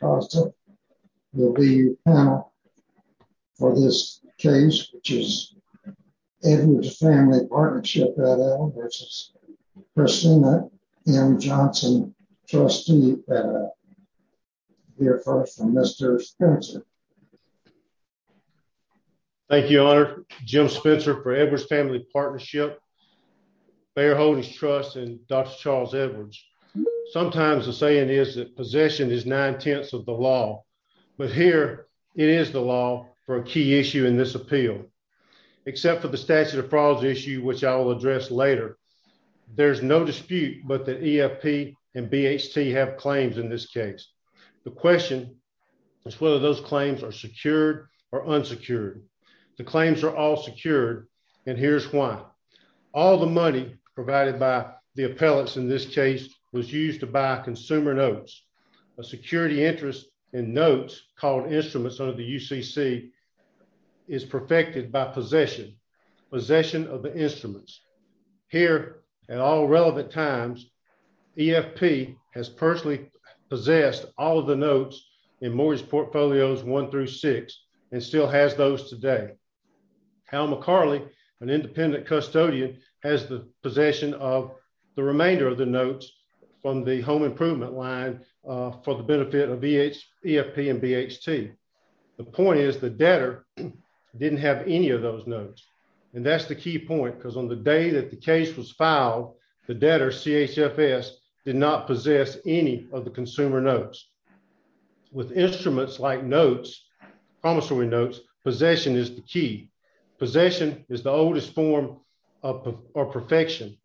will be your panel for this case, which is Edwards Family Partnership v. Christina M. Johnson, trustee here for us from Mr. Spencer. Thank you, Your Honor. Jim Spencer for Edwards Family Partnership, Bayer Holdings Trust, and Dr. Charles Edwards. Sometimes the saying is that possession is nine-tenths of the law, but here it is the law for a key issue in this appeal. Except for the statute of fraud issue, which I will address later, there's no dispute but that EFP and BHT have claims in this case. The question is whether those claims are secured or unsecured. The claims are all secured, and here's why. All the money provided by the appellants in this case was used to buy consumer notes. A security interest in notes called instruments under the UCC is perfected by possession, possession of the instruments. Here, at all relevant times, EFP has personally possessed all of the notes in mortgage portfolios one through six and still has those today. Hal McCarley, an independent custodian, has the possession of the remainder of the notes from the home improvement line for the benefit of EFP and BHT. The point is the debtor didn't have any of those notes, and that's the key point because on the day that the case was filed, the debtor, CHFS, did not possess any of the consumer notes. With instruments like notes, promissory notes, possession is the key. Possession is the oldest form of perfection.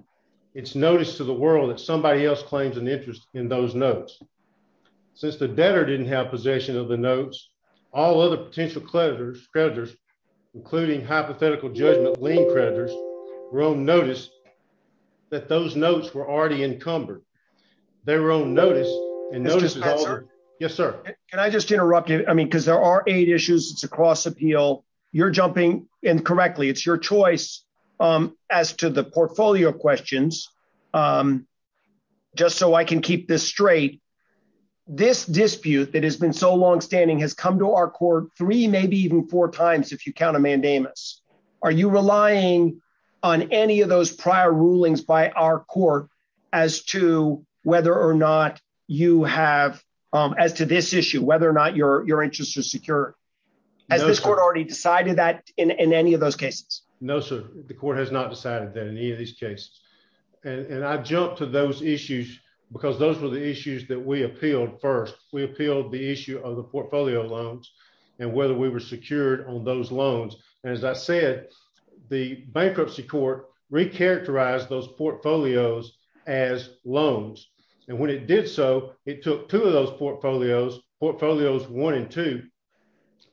It's notice to the world that somebody else claims an interest in those notes. Since the debtor didn't have possession of the notes, all other potential creditors, including hypothetical judgment lien creditors, were on notice that those notes were already encumbered. They were on notice. Yes, sir. Can I just interrupt you? I mean, because there are eight issues. It's a cross appeal. You're jumping in correctly. It's your choice. As to the portfolio questions, just so I can keep this straight, this dispute that has been so longstanding has come to our court three, maybe even four times, if you count a mandamus. Are you relying on any of those prior rulings by our court as to whether or not you have, as to this issue, whether or not your interest is secure? Has this court already decided that in any of those cases? No, sir. The court has not decided that in any of these cases. And I jumped to those issues because those were the issues that we appealed. First, we appealed the issue of the portfolio loans and whether we were secured on those loans. And as I said, the bankruptcy court recharacterized those portfolios as loans. And when it did so, it took two of those portfolios, portfolios one and two,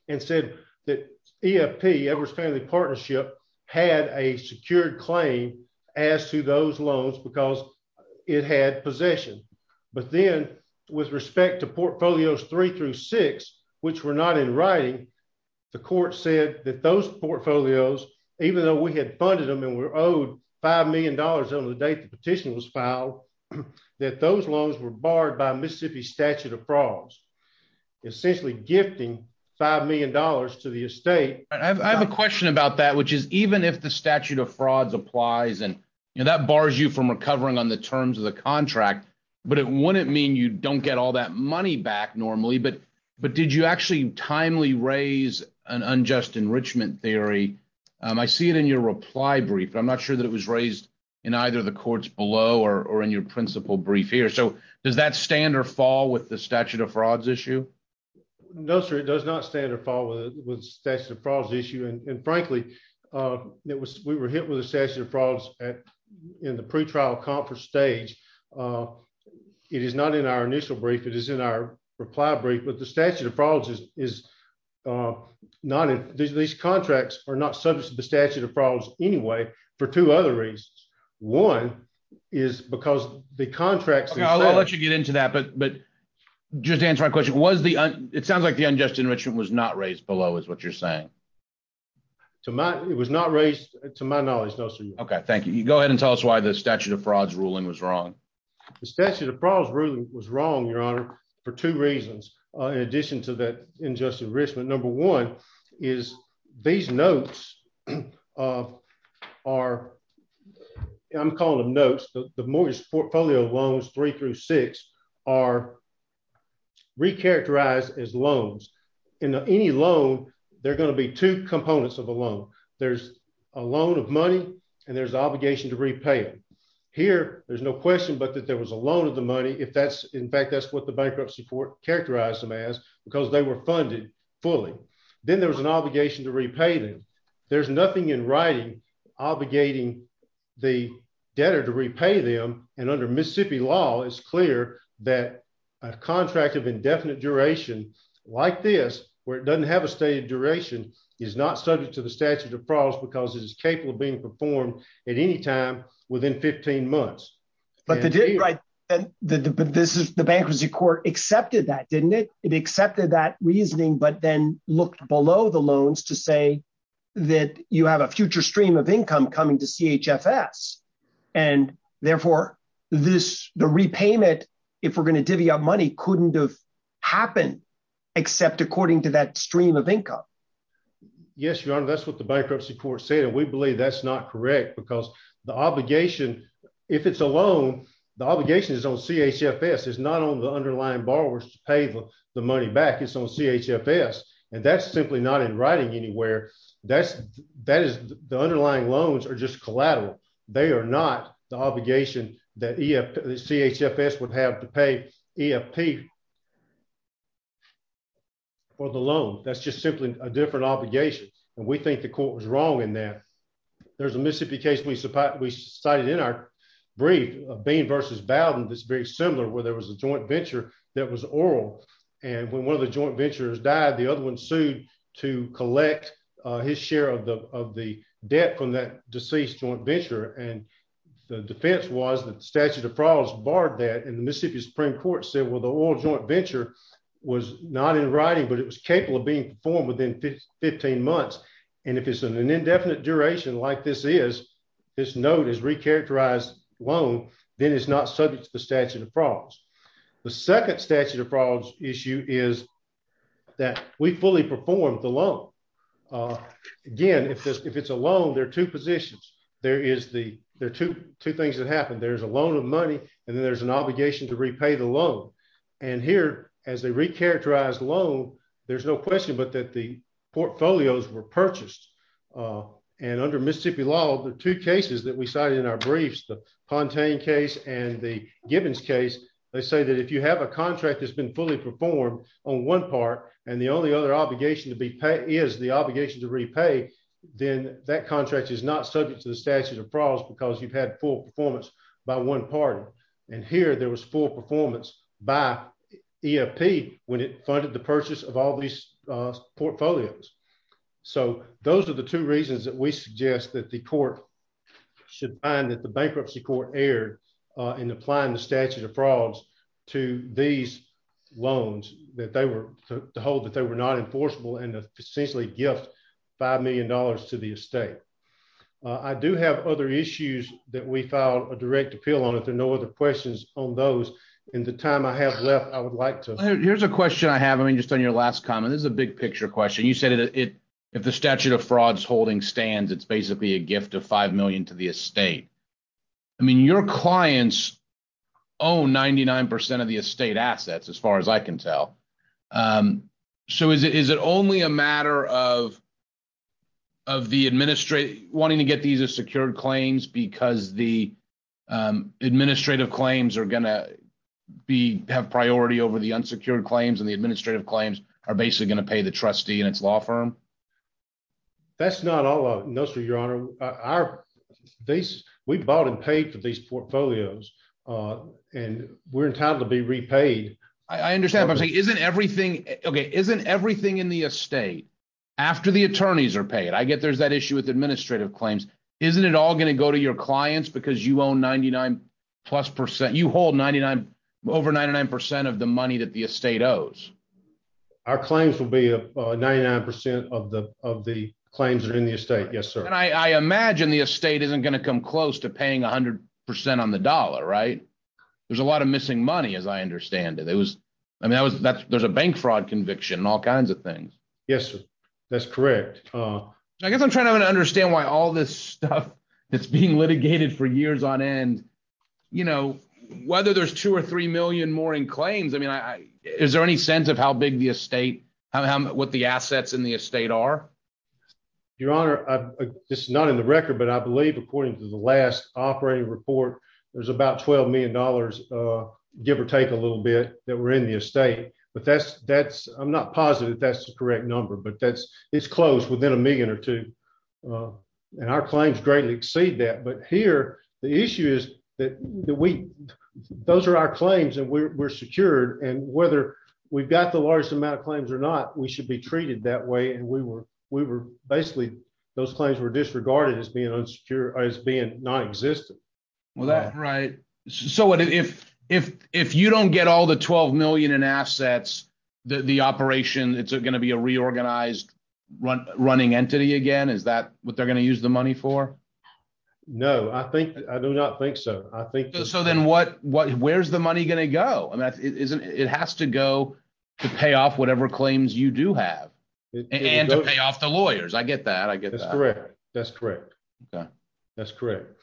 and said that EFP, Edwards Family Partnership, had a secured claim as to those loans because it had possession. But then, with respect to portfolios three through six, which were not in writing, the court said that those portfolios, even though we had funded them and were owed $5 million on the date the petition was filed, that those loans were barred by Mississippi's statute of frauds, essentially gifting $5 million to the estate. I have a question about that, which is, even if the statute of frauds applies and that bars you from recovering on the terms of the contract, but it wouldn't mean you don't get all that money back normally. But did you actually timely raise an unjust enrichment theory? I see it in your reply brief, but I'm not sure that it was raised in either the courts below or in your principal brief here. So, does that stand or fall with the statute of frauds issue? No, sir, it does not stand or fall with the statute of frauds issue. And frankly, we were hit with the statute of frauds in the pre-trial conference stage. It is not in our initial brief, it is in our reply brief, but the statute of frauds is not, these contracts are not subject to the statute of frauds anyway for two other reasons. One is because the contracts... Okay, I'll let you get into that, but just to answer my question, it sounds like the unjust enrichment was not raised below is what you're saying. It was not raised, to my knowledge, no, sir. Okay, thank you. Go ahead and tell us why the statute of frauds ruling was wrong. The statute of frauds ruling was wrong, your honor, for two reasons, in addition to that unjust enrichment. Number one is these notes are... I'm calling them notes, the mortgage portfolio loans three through six are re-characterized as loans. In any loan, there are going to be two components of a loan. There's a loan of money and there's obligation to repay it. Here, there's no question, but that there was a loan of the money if that's, in fact, that's what the bankruptcy court characterized them as because they were funded fully. Then there was an obligation to repay them. There's nothing in writing, obligating the debtor to repay them. And under Mississippi law, it's clear that a contract of indefinite duration, like this, where it doesn't have a stated duration, is not subject to the statute of frauds because it is capable of being performed at any time within 15 months. But the bankruptcy court accepted that, didn't it? It accepted that reasoning, but then looked below the loans to say that you have a future stream of income coming to CHFS. And therefore, the repayment, if we're going to divvy up money, couldn't have happened except according to that stream of income. Yes, Your Honor, that's what the bankruptcy court said. And we believe that's not correct because the obligation, if it's a loan, the obligation is on CHFS. It's not on the underlying borrowers to pay the money back. It's on CHFS, and that's simply not in writing anywhere. The underlying loans are just collateral. They are not the obligation that CHFS would have to pay EFP for the loan. That's just simply a different obligation, and we think the court was wrong in that. There's a Mississippi case we cited in our brief, Bean v. Bowden, that's very similar, where there was a joint venture that was oral. And when one of the joint ventures died, the other one sued to collect his share of the debt from that deceased joint venture. And the defense was that the statute of frauds barred that, and the Mississippi Supreme Court said, well, the oral joint venture was not in writing, but it was capable of being performed within 15 months. And if it's an indefinite duration like this is, this note is recharacterized loan, then it's not subject to the statute of frauds. The second statute of frauds issue is that we fully performed the loan. Again, if it's a loan, there are two positions. There are two things that happen. There's a loan of money, and then there's an obligation to repay the loan. And here, as a recharacterized loan, there's no question but that the portfolios were purchased. And under Mississippi law, the two cases that we cited in our briefs, the Pontaine case and the Gibbons case, they say that if you have a contract that's been fully performed on one part and the only other obligation to be paid is the obligation to repay, then that contract is not subject to the statute of frauds because you've had full performance by one party. And here there was full performance by EFP when it funded the purchase of all these portfolios. So those are the two reasons that we suggest that the court should find that the bankruptcy court erred in applying the statute of frauds to these loans that they were to hold that they were not enforceable and essentially gift $5 million to the estate. I do have other issues that we filed a direct appeal on if there are no other questions on those. In the time I have left, I would like to. Here's a question I have. I mean, just on your last comment, this is a big picture question. You said if the statute of frauds holding stands, it's basically a gift of $5 million to the estate. I mean, your clients own 99% of the estate assets, as far as I can tell. So is it is it only a matter of. Of the administrative wanting to get these are secured claims because the administrative claims are going to be have priority over the unsecured claims and the administrative claims are basically going to pay the trustee and its law firm. That's not all of it. No, sir. Your Honor, our base, we bought and paid for these portfolios, and we're entitled to be repaid. I understand. Isn't everything okay isn't everything in the estate. After the attorneys are paid I get there's that issue with administrative claims, isn't it all going to go to your clients because you own 99 plus percent you hold 99 over 99% of the money that the estate owes. Our claims will be a 99% of the of the claims are in the estate. Yes, sir. And I imagine the estate isn't going to come close to paying 100% on the dollar right. There's a lot of missing money as I understand it, it was. I mean that was that there's a bank fraud conviction and all kinds of things. Yes, that's correct. I guess I'm trying to understand why all this stuff that's being litigated for years on end, you know, whether there's two or 3 million more in claims I mean I, is there any sense of how big the estate, what the assets in the estate are. Your Honor, I just not in the record but I believe according to the last operating report, there's about $12 million, give or take a little bit that we're in the estate, but that's that's I'm not positive that's the correct number but that's it's close within a million or two. And our claims greatly exceed that but here, the issue is that we. Those are our claims and we're secured and whether we've got the largest amount of claims or not we should be treated that way and we were, we were basically those claims were disregarded as being unsecure as being non existent. Well that's right. So what if, if, if you don't get all the 12 million and assets, the operation, it's going to be a reorganized run running entity again is that what they're going to use the money for. No, I think I do not think so. I think so then what what where's the money going to go and that isn't it has to go to pay off whatever claims you do have to pay off the lawyers I get that I get that's correct. That's correct.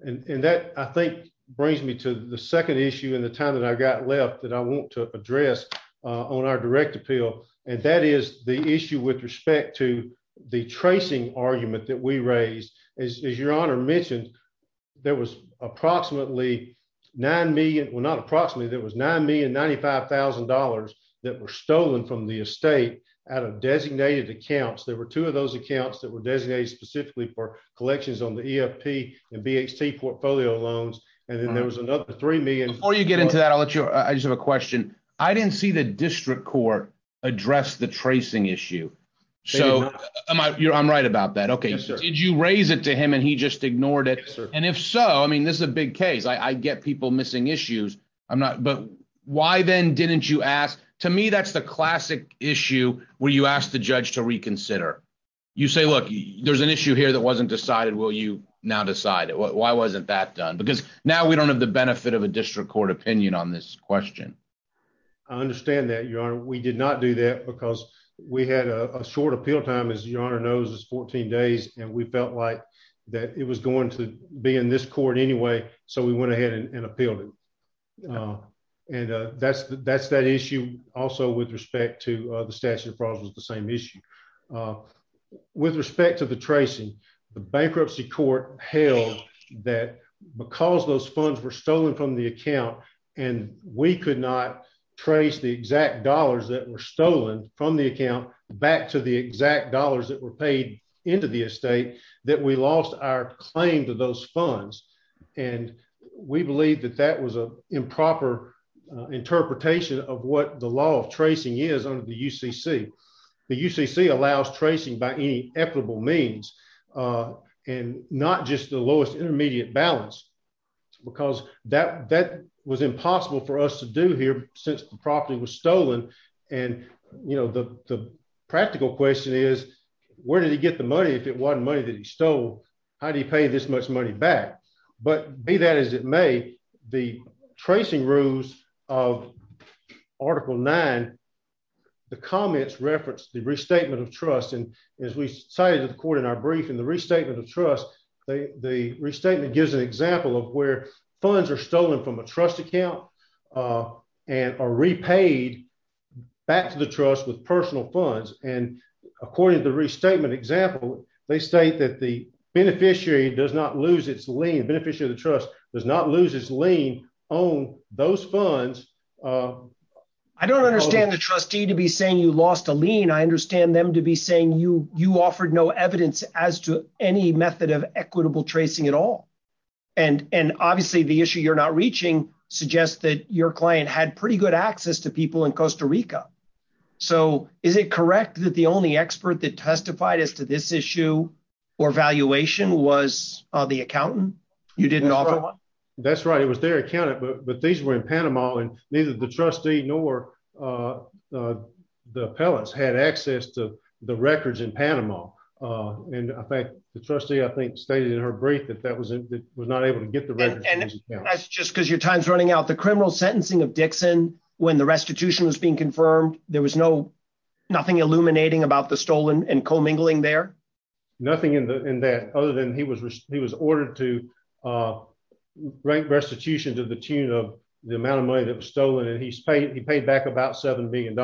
And that, I think, brings me to the second issue in the time that I got left that I want to address on our direct appeal, and that is the issue with respect to the tracing argument that we raised is your honor mentioned. There was approximately 9 million were not approximately there was $9,095,000 that were stolen from the estate out of designated accounts there were two of those accounts that were designated specifically for collections on the EFP and BHT portfolio loans. And then there was another 3 million, or you get into that I'll let you. I just have a question. I didn't see the district court address the tracing issue. So, am I, you're I'm right about that okay so did you raise it to him and he just ignored it. And if so, I mean this is a big case I get people missing issues. I'm not but why then didn't you ask to me that's the classic issue, where you asked the judge to reconsider. You say look, there's an issue here that wasn't decided will you now decide why wasn't that done because now we don't have the benefit of a district court opinion on this question. I understand that you are we did not do that because we had a short appeal time is your honor knows is 14 days, and we felt like that it was going to be in this court anyway. So we went ahead and appealed it. And that's, that's that issue. Also with respect to the statute of fraud was the same issue. With respect to the tracing the bankruptcy court held that because those funds were stolen from the account, and we could not trace the exact dollars that were stolen from the account back to the exact dollars that were paid into the estate that we lost our claim to those funds. And we believe that that was a improper interpretation of what the law of tracing is under the UCC the UCC allows tracing by equitable means, and not just the lowest intermediate balance, because that was impossible for us to do here, since the property was stolen. And, you know, the practical question is, where did he get the money if it wasn't money that he stole. How do you pay this much money back, but be that as it may, the tracing rules of Article nine. The comments reference the restatement of trust and as we cited according our brief and the restatement of trust, the restatement gives an example of where funds are stolen from a trust account, and are repaid back to the trust with personal funds, and according to restatement example, they state that the beneficiary does not lose its lane beneficiary of the trust does not lose his lane on those funds. I don't understand the trustee to be saying you lost a lien I understand them to be saying you, you offered no evidence as to any method of equitable tracing at all. And, and obviously the issue you're not reaching suggest that your client had pretty good access to people in Costa Rica. So, is it correct that the only expert that testified as to this issue or valuation was the accountant, you didn't offer. That's right, it was their account, but these were in Panama and neither the trustee nor the pellets had access to the records in Panama. And I think the trustee I think stated in her brief that that was it was not able to get the record. Just because your time's running out the criminal sentencing of Dixon, when the restitution was being confirmed, there was no nothing illuminating about the stolen and co mingling there. Nothing in the in that other than he was, he was ordered to rank restitution to the tune of the amount of money that was stolen and he's paid he paid back about $7 billion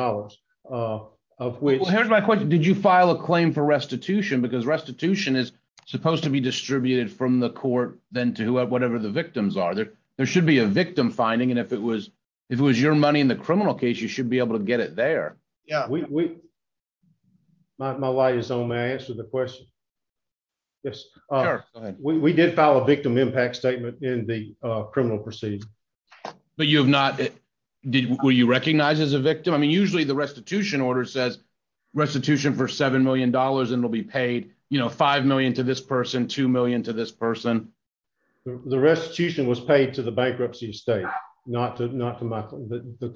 of weight. Here's my question, did you file a claim for restitution because restitution is supposed to be distributed from the court, then to whoever whatever the victims are there, there should be a victim finding and if it was, if it was your money in the criminal case you should be able to get it there. Yeah, we might my light is on my answer the question. Yes, we did file a victim impact statement in the criminal proceedings. But you have not. Did you recognize as a victim I mean usually the restitution order says restitution for $7 million and will be paid, you know, 5 million to this person 2 million to this person. The restitution was paid to the bankruptcy state, not to not to the,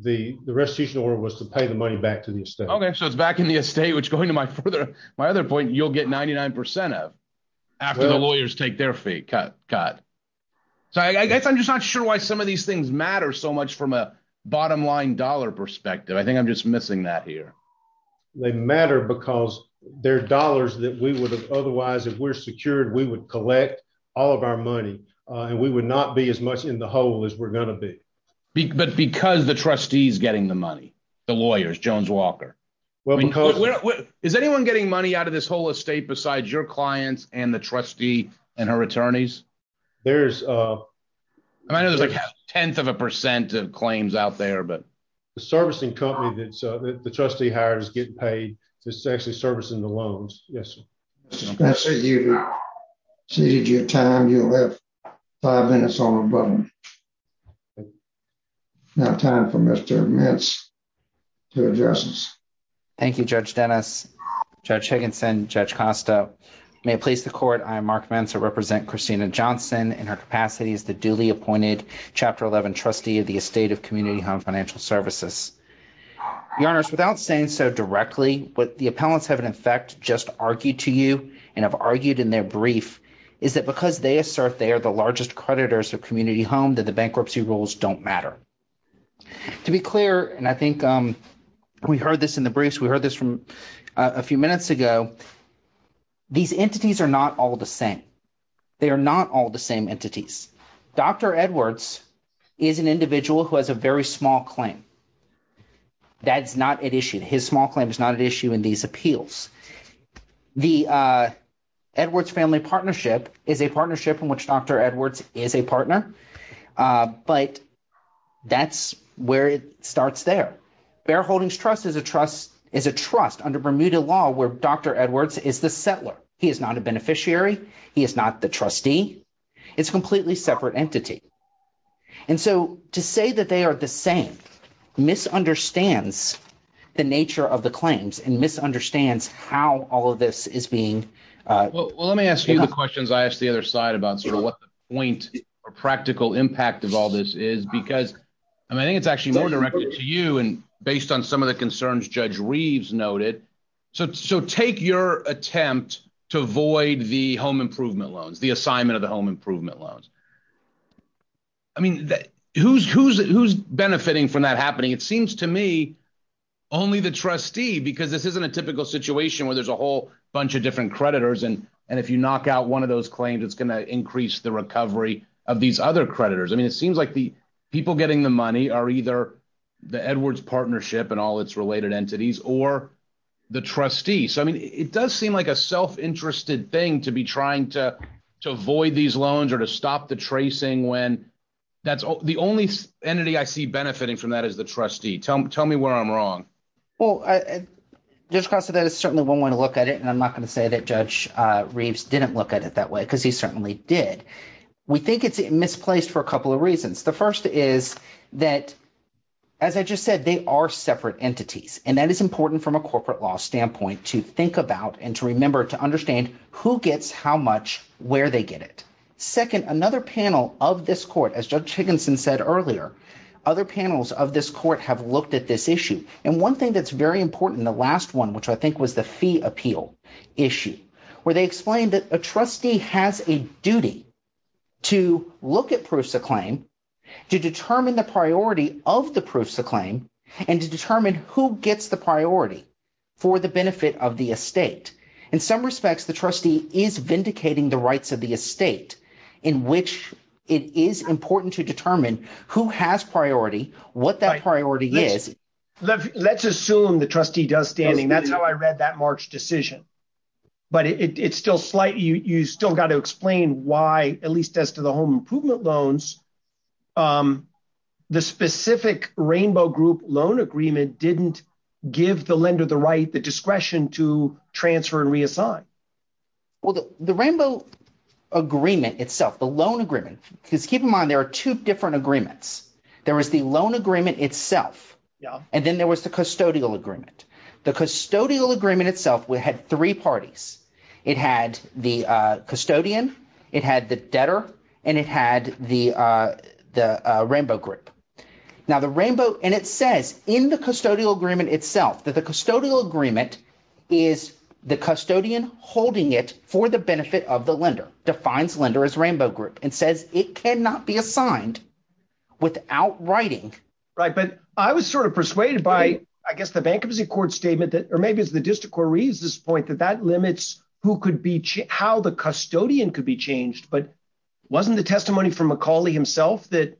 the, the restitution or was to pay the money back to the state okay so it's back in the estate which going to my further my other point you'll get 99% of after the lawyers take their feet cut cut. So I guess I'm just not sure why some of these things matter so much from a bottom line dollar perspective I think I'm just missing that here. They matter because their dollars that we would have otherwise if we're secured we would collect all of our money, and we would not be as much in the hole is we're going to be big but because the trustees getting the money. The lawyers Jones Walker. Well, because is anyone getting money out of this whole estate besides your clients and the trustee and her attorneys. There's a 10th of a percent of claims out there but the servicing company that the trustee hires get paid. It's actually servicing the loans. Yes. So you see your time you have five minutes on a button. Now time for Mr. Thank you Judge Dennis. Judge Higginson judge Costa may please the court I'm Mark Mansour represent Christina Johnson and her capacity is the duly appointed chapter 11 trustee of the estate of community home financial services. Your Honor's without saying so directly what the appellants have in effect just argued to you and have argued in their brief is that because they assert they are the largest creditors of community home that the bankruptcy rules don't matter. To be clear, and I think we heard this in the briefs we heard this from a few minutes ago. These entities are not all the same. They are not all the same entities. Dr. Edwards is an individual who has a very small claim. That's not an issue. His small claim is not an issue in these appeals. The Edwards family partnership is a partnership in which Dr. Edwards is a partner. But that's where it starts there. Bear Holdings Trust is a trust is a trust under Bermuda law where Dr. Edwards is the settler. He is not a beneficiary. He is not the trustee. It's completely separate entity. And so to say that they are the same misunderstands the nature of the claims and misunderstands how all of this is being. Well, let me ask you the questions I asked the other side about sort of what the point or practical impact of all this is, because I think it's actually more directed to you. And based on some of the concerns, Judge Reeves noted. So so take your attempt to avoid the home improvement loans, the assignment of the home improvement loans. I mean, who's who's who's benefiting from that happening? It seems to me only the trustee, because this isn't a typical situation where there's a whole bunch of different creditors. And and if you knock out one of those claims, it's going to increase the recovery of these other creditors. I mean, it seems like the people getting the money are either the Edwards partnership and all its related entities or the trustees. So, I mean, it does seem like a self-interested thing to be trying to to avoid these loans or to stop the tracing when that's the only entity I see benefiting from that is the trustee. Tell me where I'm wrong. Well, just because that is certainly one way to look at it. And I'm not going to say that Judge Reeves didn't look at it that way because he certainly did. We think it's misplaced for a couple of reasons. The first is that, as I just said, they are separate entities, and that is important from a corporate law standpoint to think about and to remember to understand who gets how much, where they get it. Second, another panel of this court, as Judge Higginson said earlier, other panels of this court have looked at this issue. And one thing that's very important, the last one, which I think was the fee appeal issue, where they explained that a trustee has a duty to look at proofs of claim, to determine the priority of the proofs of claim and to determine who gets the priority for the benefit of the estate. In some respects, the trustee is vindicating the rights of the estate in which it is important to determine who has priority, what that priority is. Let's assume the trustee does standing. That's how I read that March decision. But it's still slight. You still got to explain why, at least as to the home improvement loans, the specific Rainbow Group loan agreement didn't give the lender the right, the discretion to transfer and reassign. Well, the Rainbow Agreement itself, the loan agreement, because keep in mind there are two different agreements. There was the loan agreement itself, and then there was the custodial agreement. The custodial agreement itself had three parties. It had the custodian. It had the debtor, and it had the Rainbow Group. Now, the Rainbow – and it says in the custodial agreement itself that the custodial agreement is the custodian holding it for the benefit of the lender, defines lender as Rainbow Group, and says it cannot be assigned without writing. Right, but I was sort of persuaded by, I guess, the bankruptcy court statement that – or maybe it's the district court reads this point that that limits who could be – how the custodian could be changed. But wasn't the testimony from McCauley himself that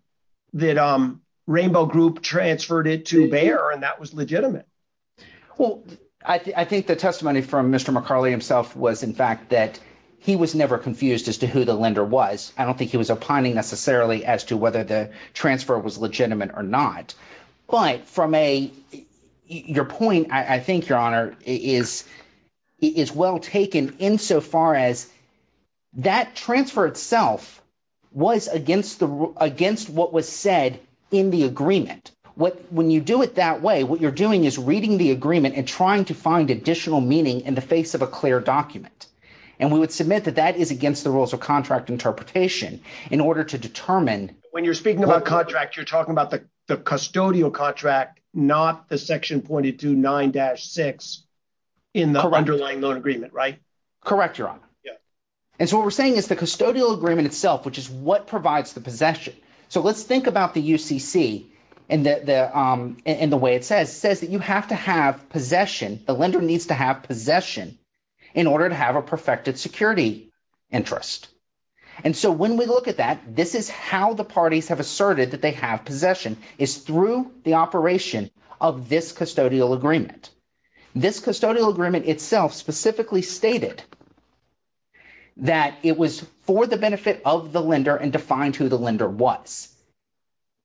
Rainbow Group transferred it to Bayer, and that was legitimate? Well, I think the testimony from Mr. McCauley himself was, in fact, that he was never confused as to who the lender was. I don't think he was opining necessarily as to whether the transfer was legitimate or not. But from a – your point, I think, Your Honor, is well taken insofar as that transfer itself was against the – against what was said in the agreement. When you do it that way, what you're doing is reading the agreement and trying to find additional meaning in the face of a clear document. And we would submit that that is against the rules of contract interpretation in order to determine… When you're speaking about contract, you're talking about the custodial contract, not the section pointed to 9-6 in the underlying loan agreement, right? Correct, Your Honor. And so what we're saying is the custodial agreement itself, which is what provides the possession. So let's think about the UCC and the way it says. It says that you have to have possession. The lender needs to have possession in order to have a perfected security interest. And so when we look at that, this is how the parties have asserted that they have possession is through the operation of this custodial agreement. This custodial agreement itself specifically stated that it was for the benefit of the lender and defined who the lender was,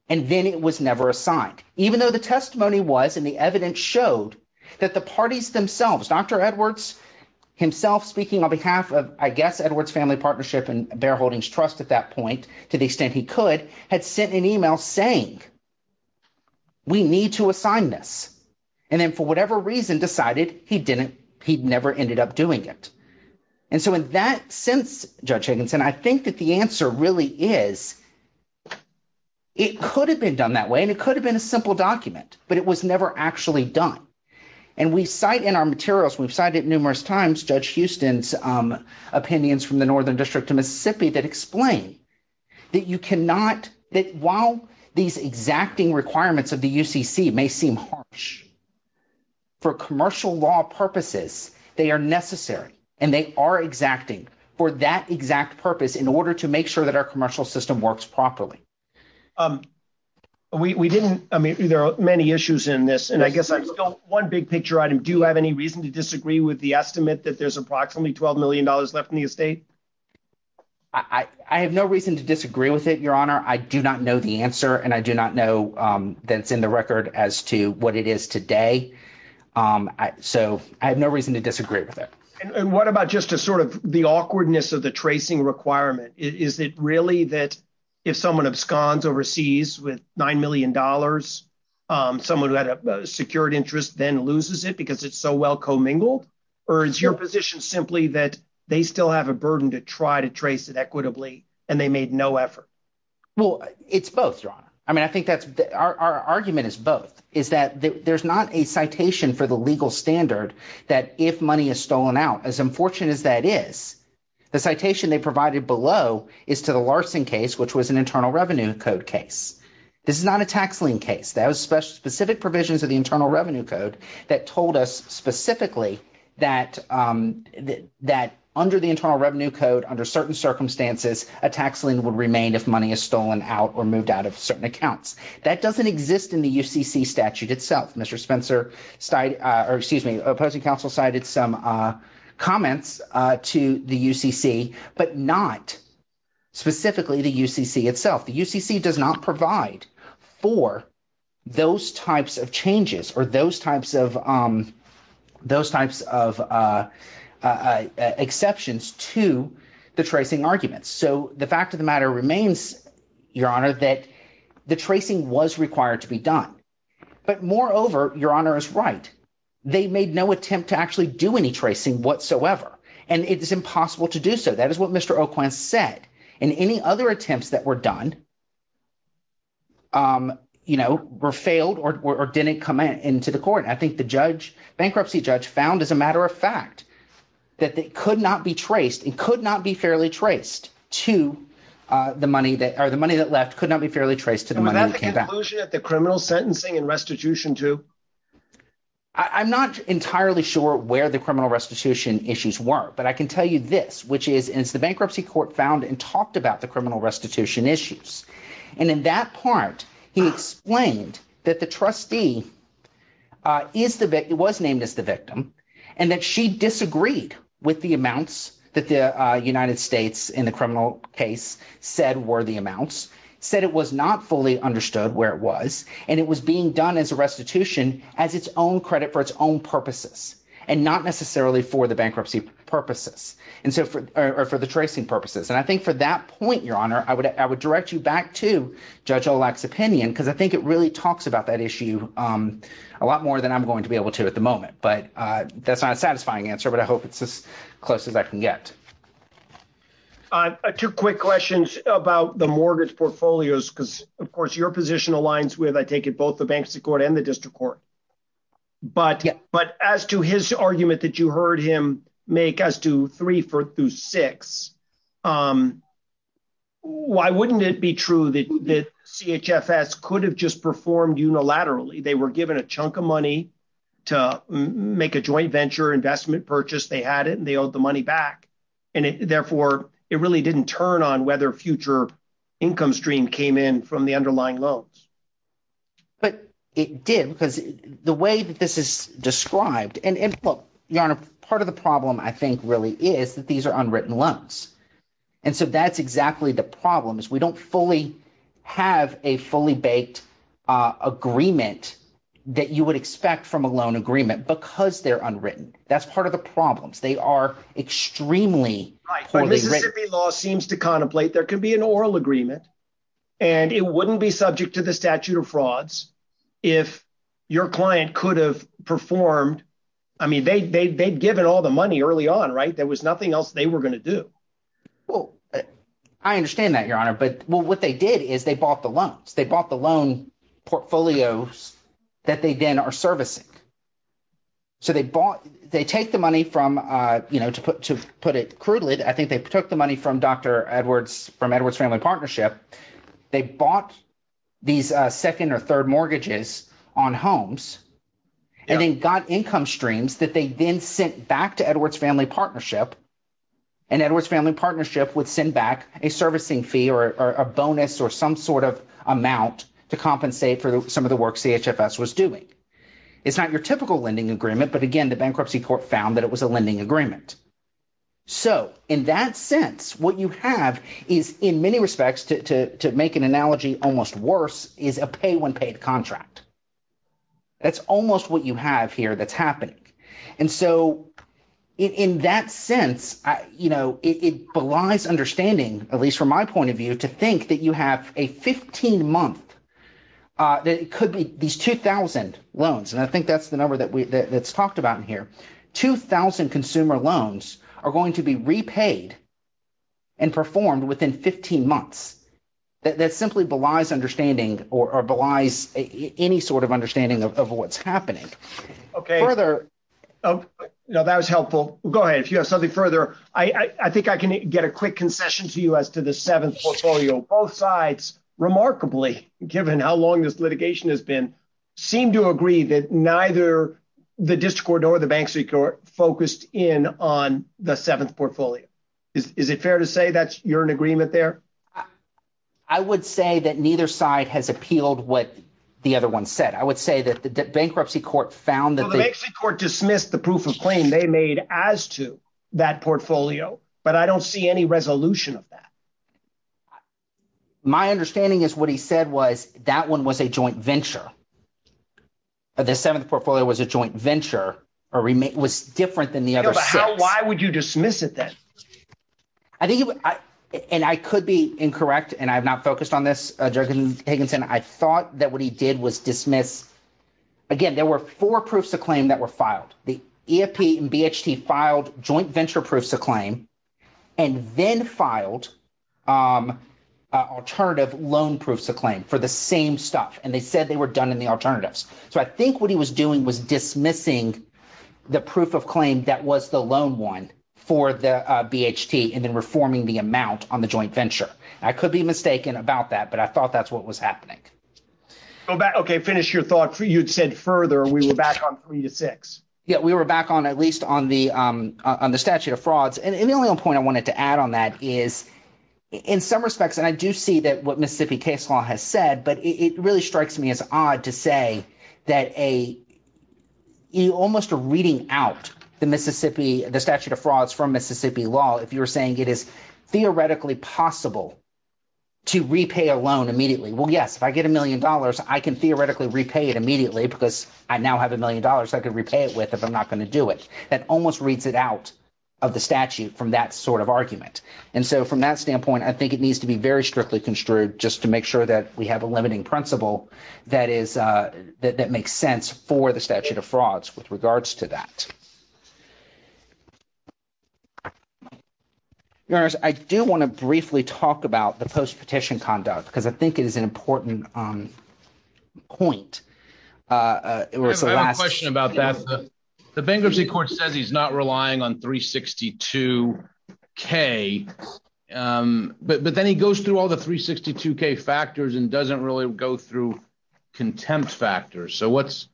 and then it was never assigned. Even though the testimony was and the evidence showed that the parties themselves, Dr. Edwards himself speaking on behalf of, I guess, Edwards Family Partnership and Bear Holdings Trust at that point to the extent he could, had sent an email saying we need to assign this. And then for whatever reason decided he didn't, he never ended up doing it. And so in that sense, Judge Higginson, I think that the answer really is it could have been done that way and it could have been a simple document, but it was never actually done. And we cite in our materials, we've cited numerous times Judge Houston's opinions from the Northern District of Mississippi that explain that you cannot, that while these exacting requirements of the UCC may seem harsh for commercial law purposes, they are necessary and they are exacting for that exact purpose in order to make sure that our commercial system works properly. We didn't, I mean, there are many issues in this, and I guess one big picture item. Do you have any reason to disagree with the estimate that there's approximately $12 million left in the estate? I have no reason to disagree with it, Your Honor. I do not know the answer, and I do not know that it's in the record as to what it is today. So I have no reason to disagree with it. And what about just a sort of the awkwardness of the tracing requirement? Is it really that if someone absconds overseas with $9 million, someone who had a secured interest then loses it because it's so well commingled? Or is your position simply that they still have a burden to try to trace it equitably and they made no effort? Well, it's both, Your Honor. I mean, I think that's – our argument is both, is that there's not a citation for the legal standard that if money is stolen out, as unfortunate as that is, the citation they provided below is to the Larson case, which was an internal revenue code case. This is not a tax lien case. That was specific provisions of the Internal Revenue Code that told us specifically that under the Internal Revenue Code, under certain circumstances, a tax lien would remain if money is stolen out or moved out of certain accounts. That doesn't exist in the UCC statute itself. Mr. Spencer – or excuse me – opposing counsel cited some comments to the UCC but not specifically the UCC itself. The UCC does not provide for those types of changes or those types of exceptions to the tracing arguments. So the fact of the matter remains, Your Honor, that the tracing was required to be done. But moreover, Your Honor is right. They made no attempt to actually do any tracing whatsoever, and it is impossible to do so. That is what Mr. Oquand said, and any other attempts that were done were failed or didn't come into the court. I think the judge, bankruptcy judge, found as a matter of fact that it could not be traced. It could not be fairly traced to the money that – or the money that left could not be fairly traced to the money that came back. Was that the conclusion of the criminal sentencing and restitution too? I'm not entirely sure where the criminal restitution issues were, but I can tell you this, which is the bankruptcy court found and talked about the criminal restitution issues. And in that part, he explained that the trustee is the – was named as the victim and that she disagreed with the amounts that the United States in the criminal case said were the amounts, said it was not fully understood where it was. And it was being done as a restitution as its own credit for its own purposes and not necessarily for the bankruptcy purposes or for the tracing purposes. And I think for that point, Your Honor, I would direct you back to Judge Olak's opinion because I think it really talks about that issue a lot more than I'm going to be able to at the moment. But that's not a satisfying answer, but I hope it's as close as I can get. Two quick questions about the mortgage portfolios because, of course, your position aligns with, I take it, both the bankruptcy court and the district court. But as to his argument that you heard him make as to three through six, why wouldn't it be true that CHFS could have just performed unilaterally? They were given a chunk of money to make a joint venture investment purchase. They had it, and they owed the money back. And therefore, it really didn't turn on whether future income stream came in from the underlying loans. But it did because the way that this is described – and look, Your Honor, part of the problem I think really is that these are unwritten loans. And so that's exactly the problem is we don't fully have a fully baked agreement that you would expect from a loan agreement because they're unwritten. That's part of the problems. They are extremely poorly written. Mississippi law seems to contemplate there could be an oral agreement, and it wouldn't be subject to the statute of frauds if your client could have performed – I mean, they'd given all the money early on. There was nothing else they were going to do. I understand that, Your Honor, but what they did is they bought the loans. They bought the loan portfolios that they then are servicing. So they bought – they take the money from – to put it crudely, I think they took the money from Dr. Edwards – from Edwards Family Partnership. They bought these second or third mortgages on homes and then got income streams that they then sent back to Edwards Family Partnership. And Edwards Family Partnership would send back a servicing fee or a bonus or some sort of amount to compensate for some of the work CHFS was doing. It's not your typical lending agreement, but again, the bankruptcy court found that it was a lending agreement. So in that sense, what you have is, in many respects, to make an analogy almost worse, is a pay-when-paid contract. That's almost what you have here that's happening. And so in that sense, it belies understanding, at least from my point of view, to think that you have a 15-month – that it could be these 2,000 loans, and I think that's the number that's talked about in here. 2,000 consumer loans are going to be repaid and performed within 15 months. That simply belies understanding or belies any sort of understanding of what's happening. Further – Now, that was helpful. Go ahead. If you have something further, I think I can get a quick concession to you as to the seventh portfolio. Both sides, remarkably, given how long this litigation has been, seem to agree that neither the district court nor the bankruptcy court focused in on the seventh portfolio. Is it fair to say that you're in agreement there? I would say that neither side has appealed what the other one said. I would say that the bankruptcy court found that the – Well, the bankruptcy court dismissed the proof of claim they made as to that portfolio, but I don't see any resolution of that. My understanding is what he said was that one was a joint venture. The seventh portfolio was a joint venture or was different than the other six. Why would you dismiss it then? I think – and I could be incorrect, and I have not focused on this, Judge Higginson. I thought that what he did was dismiss – again, there were four proofs of claim that were filed. The EFP and BHT filed joint venture proofs of claim and then filed alternative loan proofs of claim for the same stuff, and they said they were done in the alternatives. So I think what he was doing was dismissing the proof of claim that was the loan one for the BHT and then reforming the amount on the joint venture. I could be mistaken about that, but I thought that's what was happening. Okay, finish your thought. You'd said further. We were back on three to six. Yeah, we were back on at least on the statute of frauds. And the only other point I wanted to add on that is in some respects, and I do see that what Mississippi case law has said, but it really strikes me as odd to say that a – you almost are reading out the Mississippi – the statute of frauds from Mississippi law. If you're saying it is theoretically possible to repay a loan immediately, well, yes, if I get a million dollars, I can theoretically repay it immediately because I now have a million dollars I could repay it with if I'm not going to do it. That almost reads it out of the statute from that sort of argument. And so from that standpoint, I think it needs to be very strictly construed just to make sure that we have a limiting principle that is – that makes sense for the statute of frauds with regards to that. Your Honor, I do want to briefly talk about the post-petition conduct because I think it is an important point. I have a question about that. The bankruptcy court says he's not relying on 362K, but then he goes through all the 362K factors and doesn't really go through contempt factors. So what's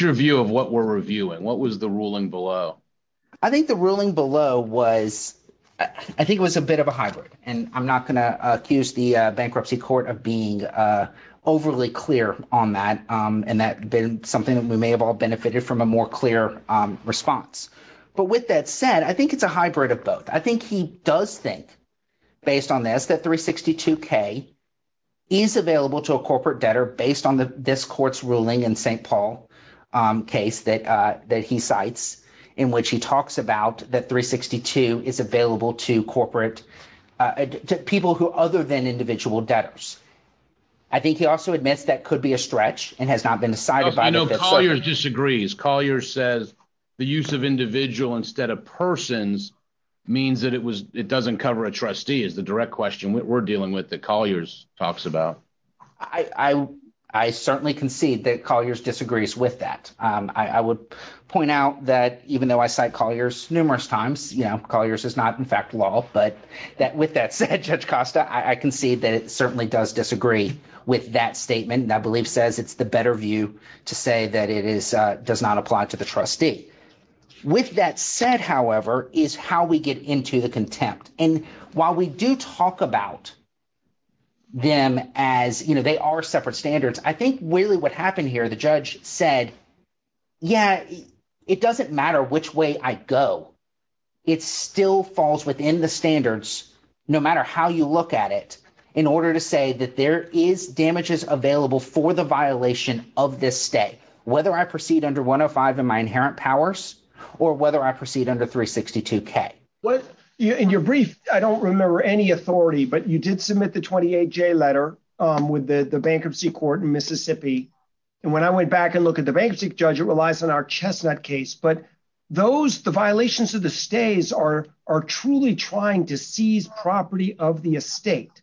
your view of what we're reviewing? What was the ruling below? I think the ruling below was – I think it was a bit of a hybrid, and I'm not going to accuse the bankruptcy court of being overly clear on that. And that's something that we may have all benefited from a more clear response. But with that said, I think it's a hybrid of both. I think he does think, based on this, that 362K is available to a corporate debtor based on this court's ruling in St. Paul case that he cites in which he talks about that 362 is available to corporate – to people who are other than individual debtors. I think he also admits that could be a stretch and has not been decided by the fifth circuit. Colliers disagrees. Colliers says the use of individual instead of persons means that it doesn't cover a trustee is the direct question we're dealing with that Colliers talks about. I certainly concede that Colliers disagrees with that. I would point out that even though I cite Colliers numerous times – Colliers is not, in fact, law – but with that said, Judge Costa, I concede that it certainly does disagree with that statement. And I believe says it's the better view to say that it does not apply to the trustee. With that said, however, is how we get into the contempt. And while we do talk about them as – they are separate standards, I think really what happened here, the judge said, yeah, it doesn't matter which way I go. It still falls within the standards, no matter how you look at it, in order to say that there is damages available for the violation of this stay, whether I proceed under 105 in my inherent powers or whether I proceed under 362K. In your brief, I don't remember any authority, but you did submit the 28J letter with the bankruptcy court in Mississippi. And when I went back and looked at the bankruptcy judge, it relies on our chestnut case. But those – the violations of the stays are truly trying to seize property of the estate.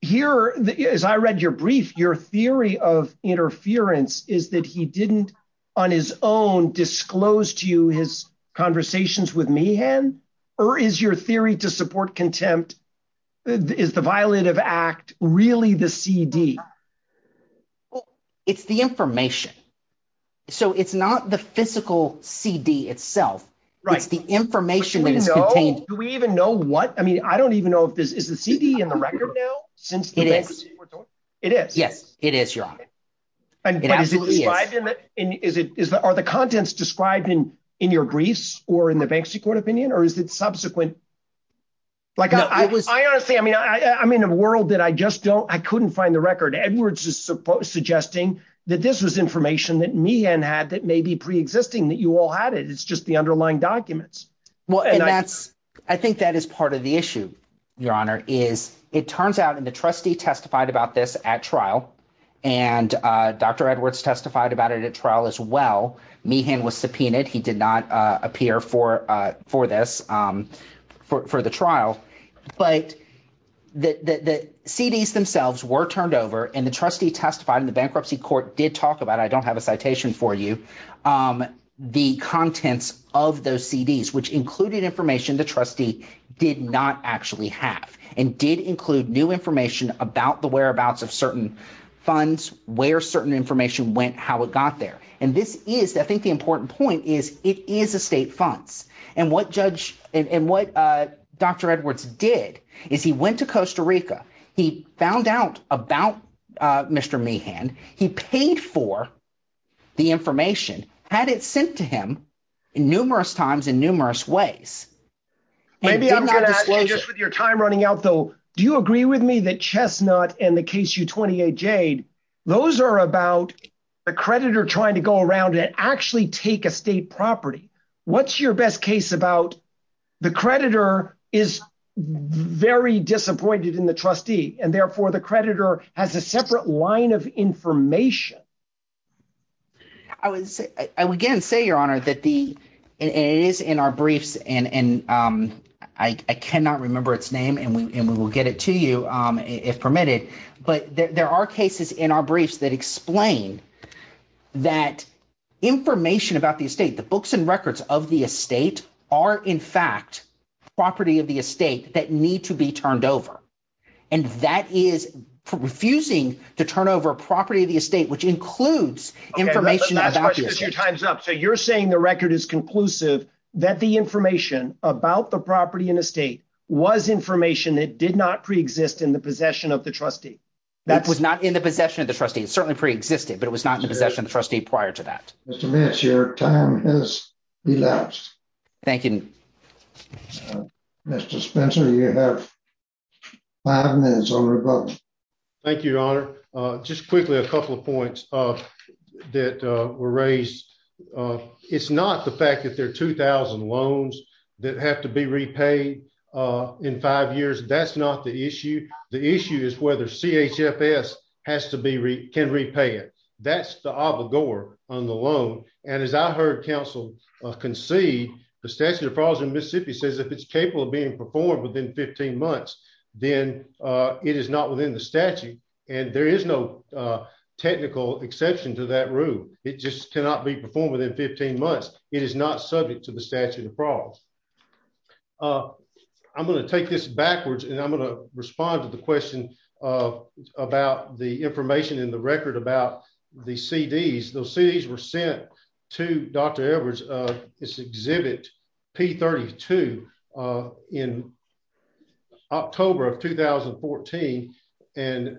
Here, as I read your brief, your theory of interference is that he didn't on his own disclose to you his conversations with Meehan, or is your theory to support contempt – is the violative act really the CD? It's the information. So it's not the physical CD itself. It's the information that is contained. Do we even know what – I mean, I don't even know if this – is the CD in the record now? It is. It is? Yes, it is, Your Honor. But is it described in – are the contents described in your briefs or in the bankruptcy court opinion, or is it subsequent? Like, I honestly – I mean, I'm in a world that I just don't – I couldn't find the record. Edwards is suggesting that this was information that Meehan had that may be preexisting, that you all had it. It's just the underlying documents. Well, and that's – I think that is part of the issue, Your Honor, is it turns out, and the trustee testified about this at trial, and Dr. Edwards testified about it at trial as well. Meehan was subpoenaed. He did not appear for this – for the trial. But the CDs themselves were turned over, and the trustee testified, and the bankruptcy court did talk about it. I don't have a citation for you. The contents of those CDs, which included information the trustee did not actually have and did include new information about the whereabouts of certain funds, where certain information went, how it got there. And this is – I think the important point is it is estate funds. And what judge – and what Dr. Edwards did is he went to Costa Rica. He found out about Mr. Meehan. He paid for the information, had it sent to him numerous times in numerous ways, and did not disclose it. Maybe I'm going to ask you, just with your time running out though, do you agree with me that Chestnut and the KSU-28 Jade, those are about a creditor trying to go around and actually take estate property? What's your best case about the creditor is very disappointed in the trustee, and therefore the creditor has a separate line of information? I would again say, Your Honor, that the – and it is in our briefs, and I cannot remember its name, and we will get it to you if permitted. But there are cases in our briefs that explain that information about the estate, the books and records of the estate are, in fact, property of the estate that need to be turned over. And that is refusing to turn over property of the estate, which includes information about the estate. Okay, let's push this a few times up. So you're saying the record is conclusive that the information about the property and estate was information that did not preexist in the possession of the trustee? It was not in the possession of the trustee. It certainly preexisted, but it was not in the possession of the trustee prior to that. Mr. Meehan, your time has elapsed. Thank you. Mr. Spencer, you have five minutes on rebuttal. Thank you, Your Honor. Just quickly a couple of points that were raised. It's not the fact that there are 2,000 loans that have to be repaid in five years. That's not the issue. The issue is whether CHFS has to be – can repay it. That's the obligor on the loan. And as I heard counsel concede, the statute of frauds in Mississippi says if it's capable of being performed within 15 months, then it is not within the statute. And there is no technical exception to that rule. It just cannot be performed within 15 months. It is not subject to the statute of frauds. I'm going to take this backwards, and I'm going to respond to the question about the information in the record about the CDs. Those CDs were sent to Dr. Edwards' exhibit P32 in October of 2014. And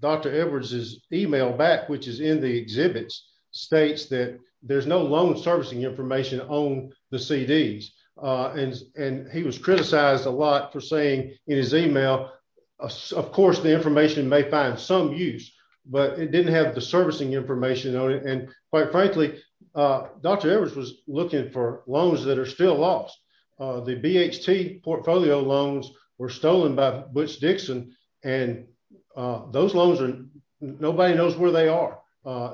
Dr. Edwards' email back, which is in the exhibits, states that there's no loan servicing information on the CDs. And he was criticized a lot for saying in his email, of course the information may find some use, but it didn't have the servicing information on it. And quite frankly, Dr. Edwards was looking for loans that are still lost. The BHT portfolio loans were stolen by Butch Dixon, and those loans are – nobody knows where they are.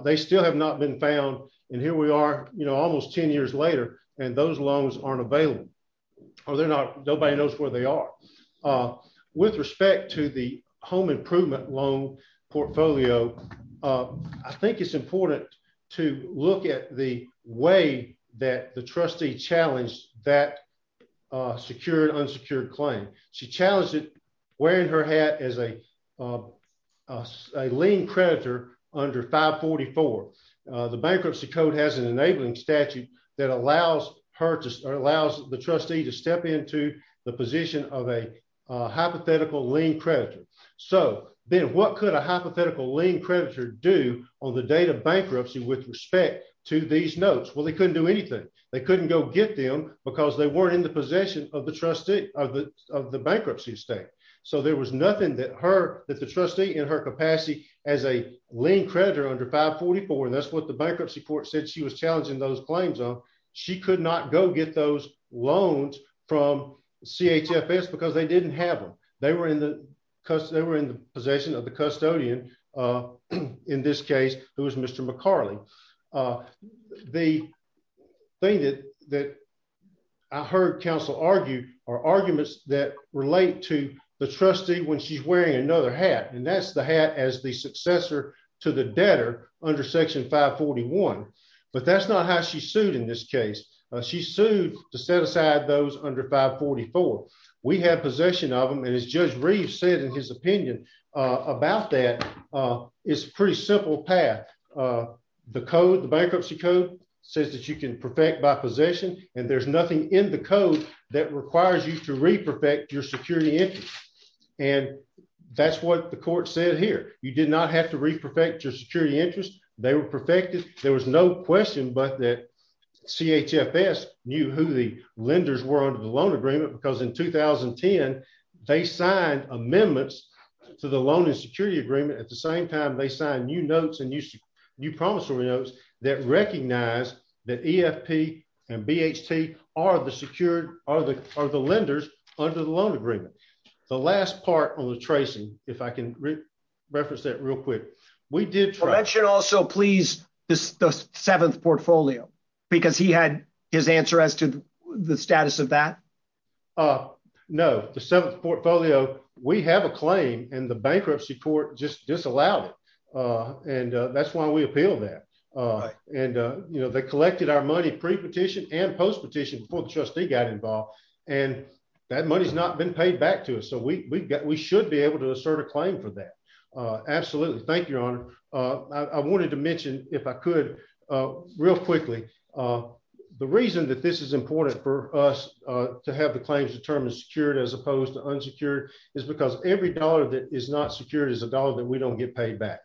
They still have not been found, and here we are almost 10 years later, and those loans aren't available. Or they're not – nobody knows where they are. With respect to the home improvement loan portfolio, I think it's important to look at the way that the trustee challenged that secured, unsecured claim. She challenged it wearing her hat as a lien creditor under 544. The Bankruptcy Code has an enabling statute that allows her to – or allows the trustee to step into the position of a hypothetical lien creditor. So, Ben, what could a hypothetical lien creditor do on the date of bankruptcy with respect to these notes? Well, they couldn't do anything. They couldn't go get them because they weren't in the possession of the bankruptcy estate. So there was nothing that the trustee in her capacity as a lien creditor under 544 – and that's what the bankruptcy court said she was challenging those claims on – she could not go get those loans from CHFS because they didn't have them. They were in the possession of the custodian in this case, who was Mr. McCarley. The thing that I heard counsel argue are arguments that relate to the trustee when she's wearing another hat, and that's the hat as the successor to the debtor under Section 541. But that's not how she sued in this case. She sued to set aside those under 544. We have possession of them, and as Judge Reeves said in his opinion about that, it's a pretty simple path. The code, the bankruptcy code, says that you can perfect by possession, and there's nothing in the code that requires you to re-perfect your security interest. And that's what the court said here. You did not have to re-perfect your security interest. They were perfected. There was no question but that CHFS knew who the lenders were under the loan agreement because in 2010, they signed amendments to the loan and security agreement. At the same time, they signed new notes and new promissory notes that recognized that EFP and BHT are the lenders under the loan agreement. The last part on the tracing, if I can reference that real quick. Can you mention also, please, the Seventh Portfolio? Because he had his answer as to the status of that. No, the Seventh Portfolio, we have a claim, and the bankruptcy court just disallowed it. And that's why we appealed that. And they collected our money pre-petition and post-petition before the trustee got involved. And that money has not been paid back to us, so we should be able to assert a claim for that. Absolutely. Thank you, Your Honor. I wanted to mention, if I could, real quickly, the reason that this is important for us to have the claims determined secured as opposed to unsecured is because every dollar that is not secured is a dollar that we don't get paid back.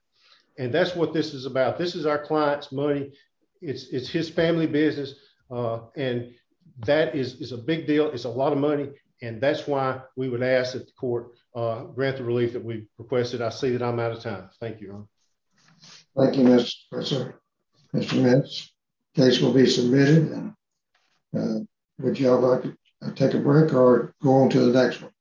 And that's what this is about. This is our client's money. It's his family business. It's a lot of money. And that's why we would ask that the court grant the relief that we requested. I see that I'm out of time. Thank you, Your Honor. Thank you, Mr. Spencer. Mr. Mintz, the case will be submitted. Would you all like to take a break or go on to the next one?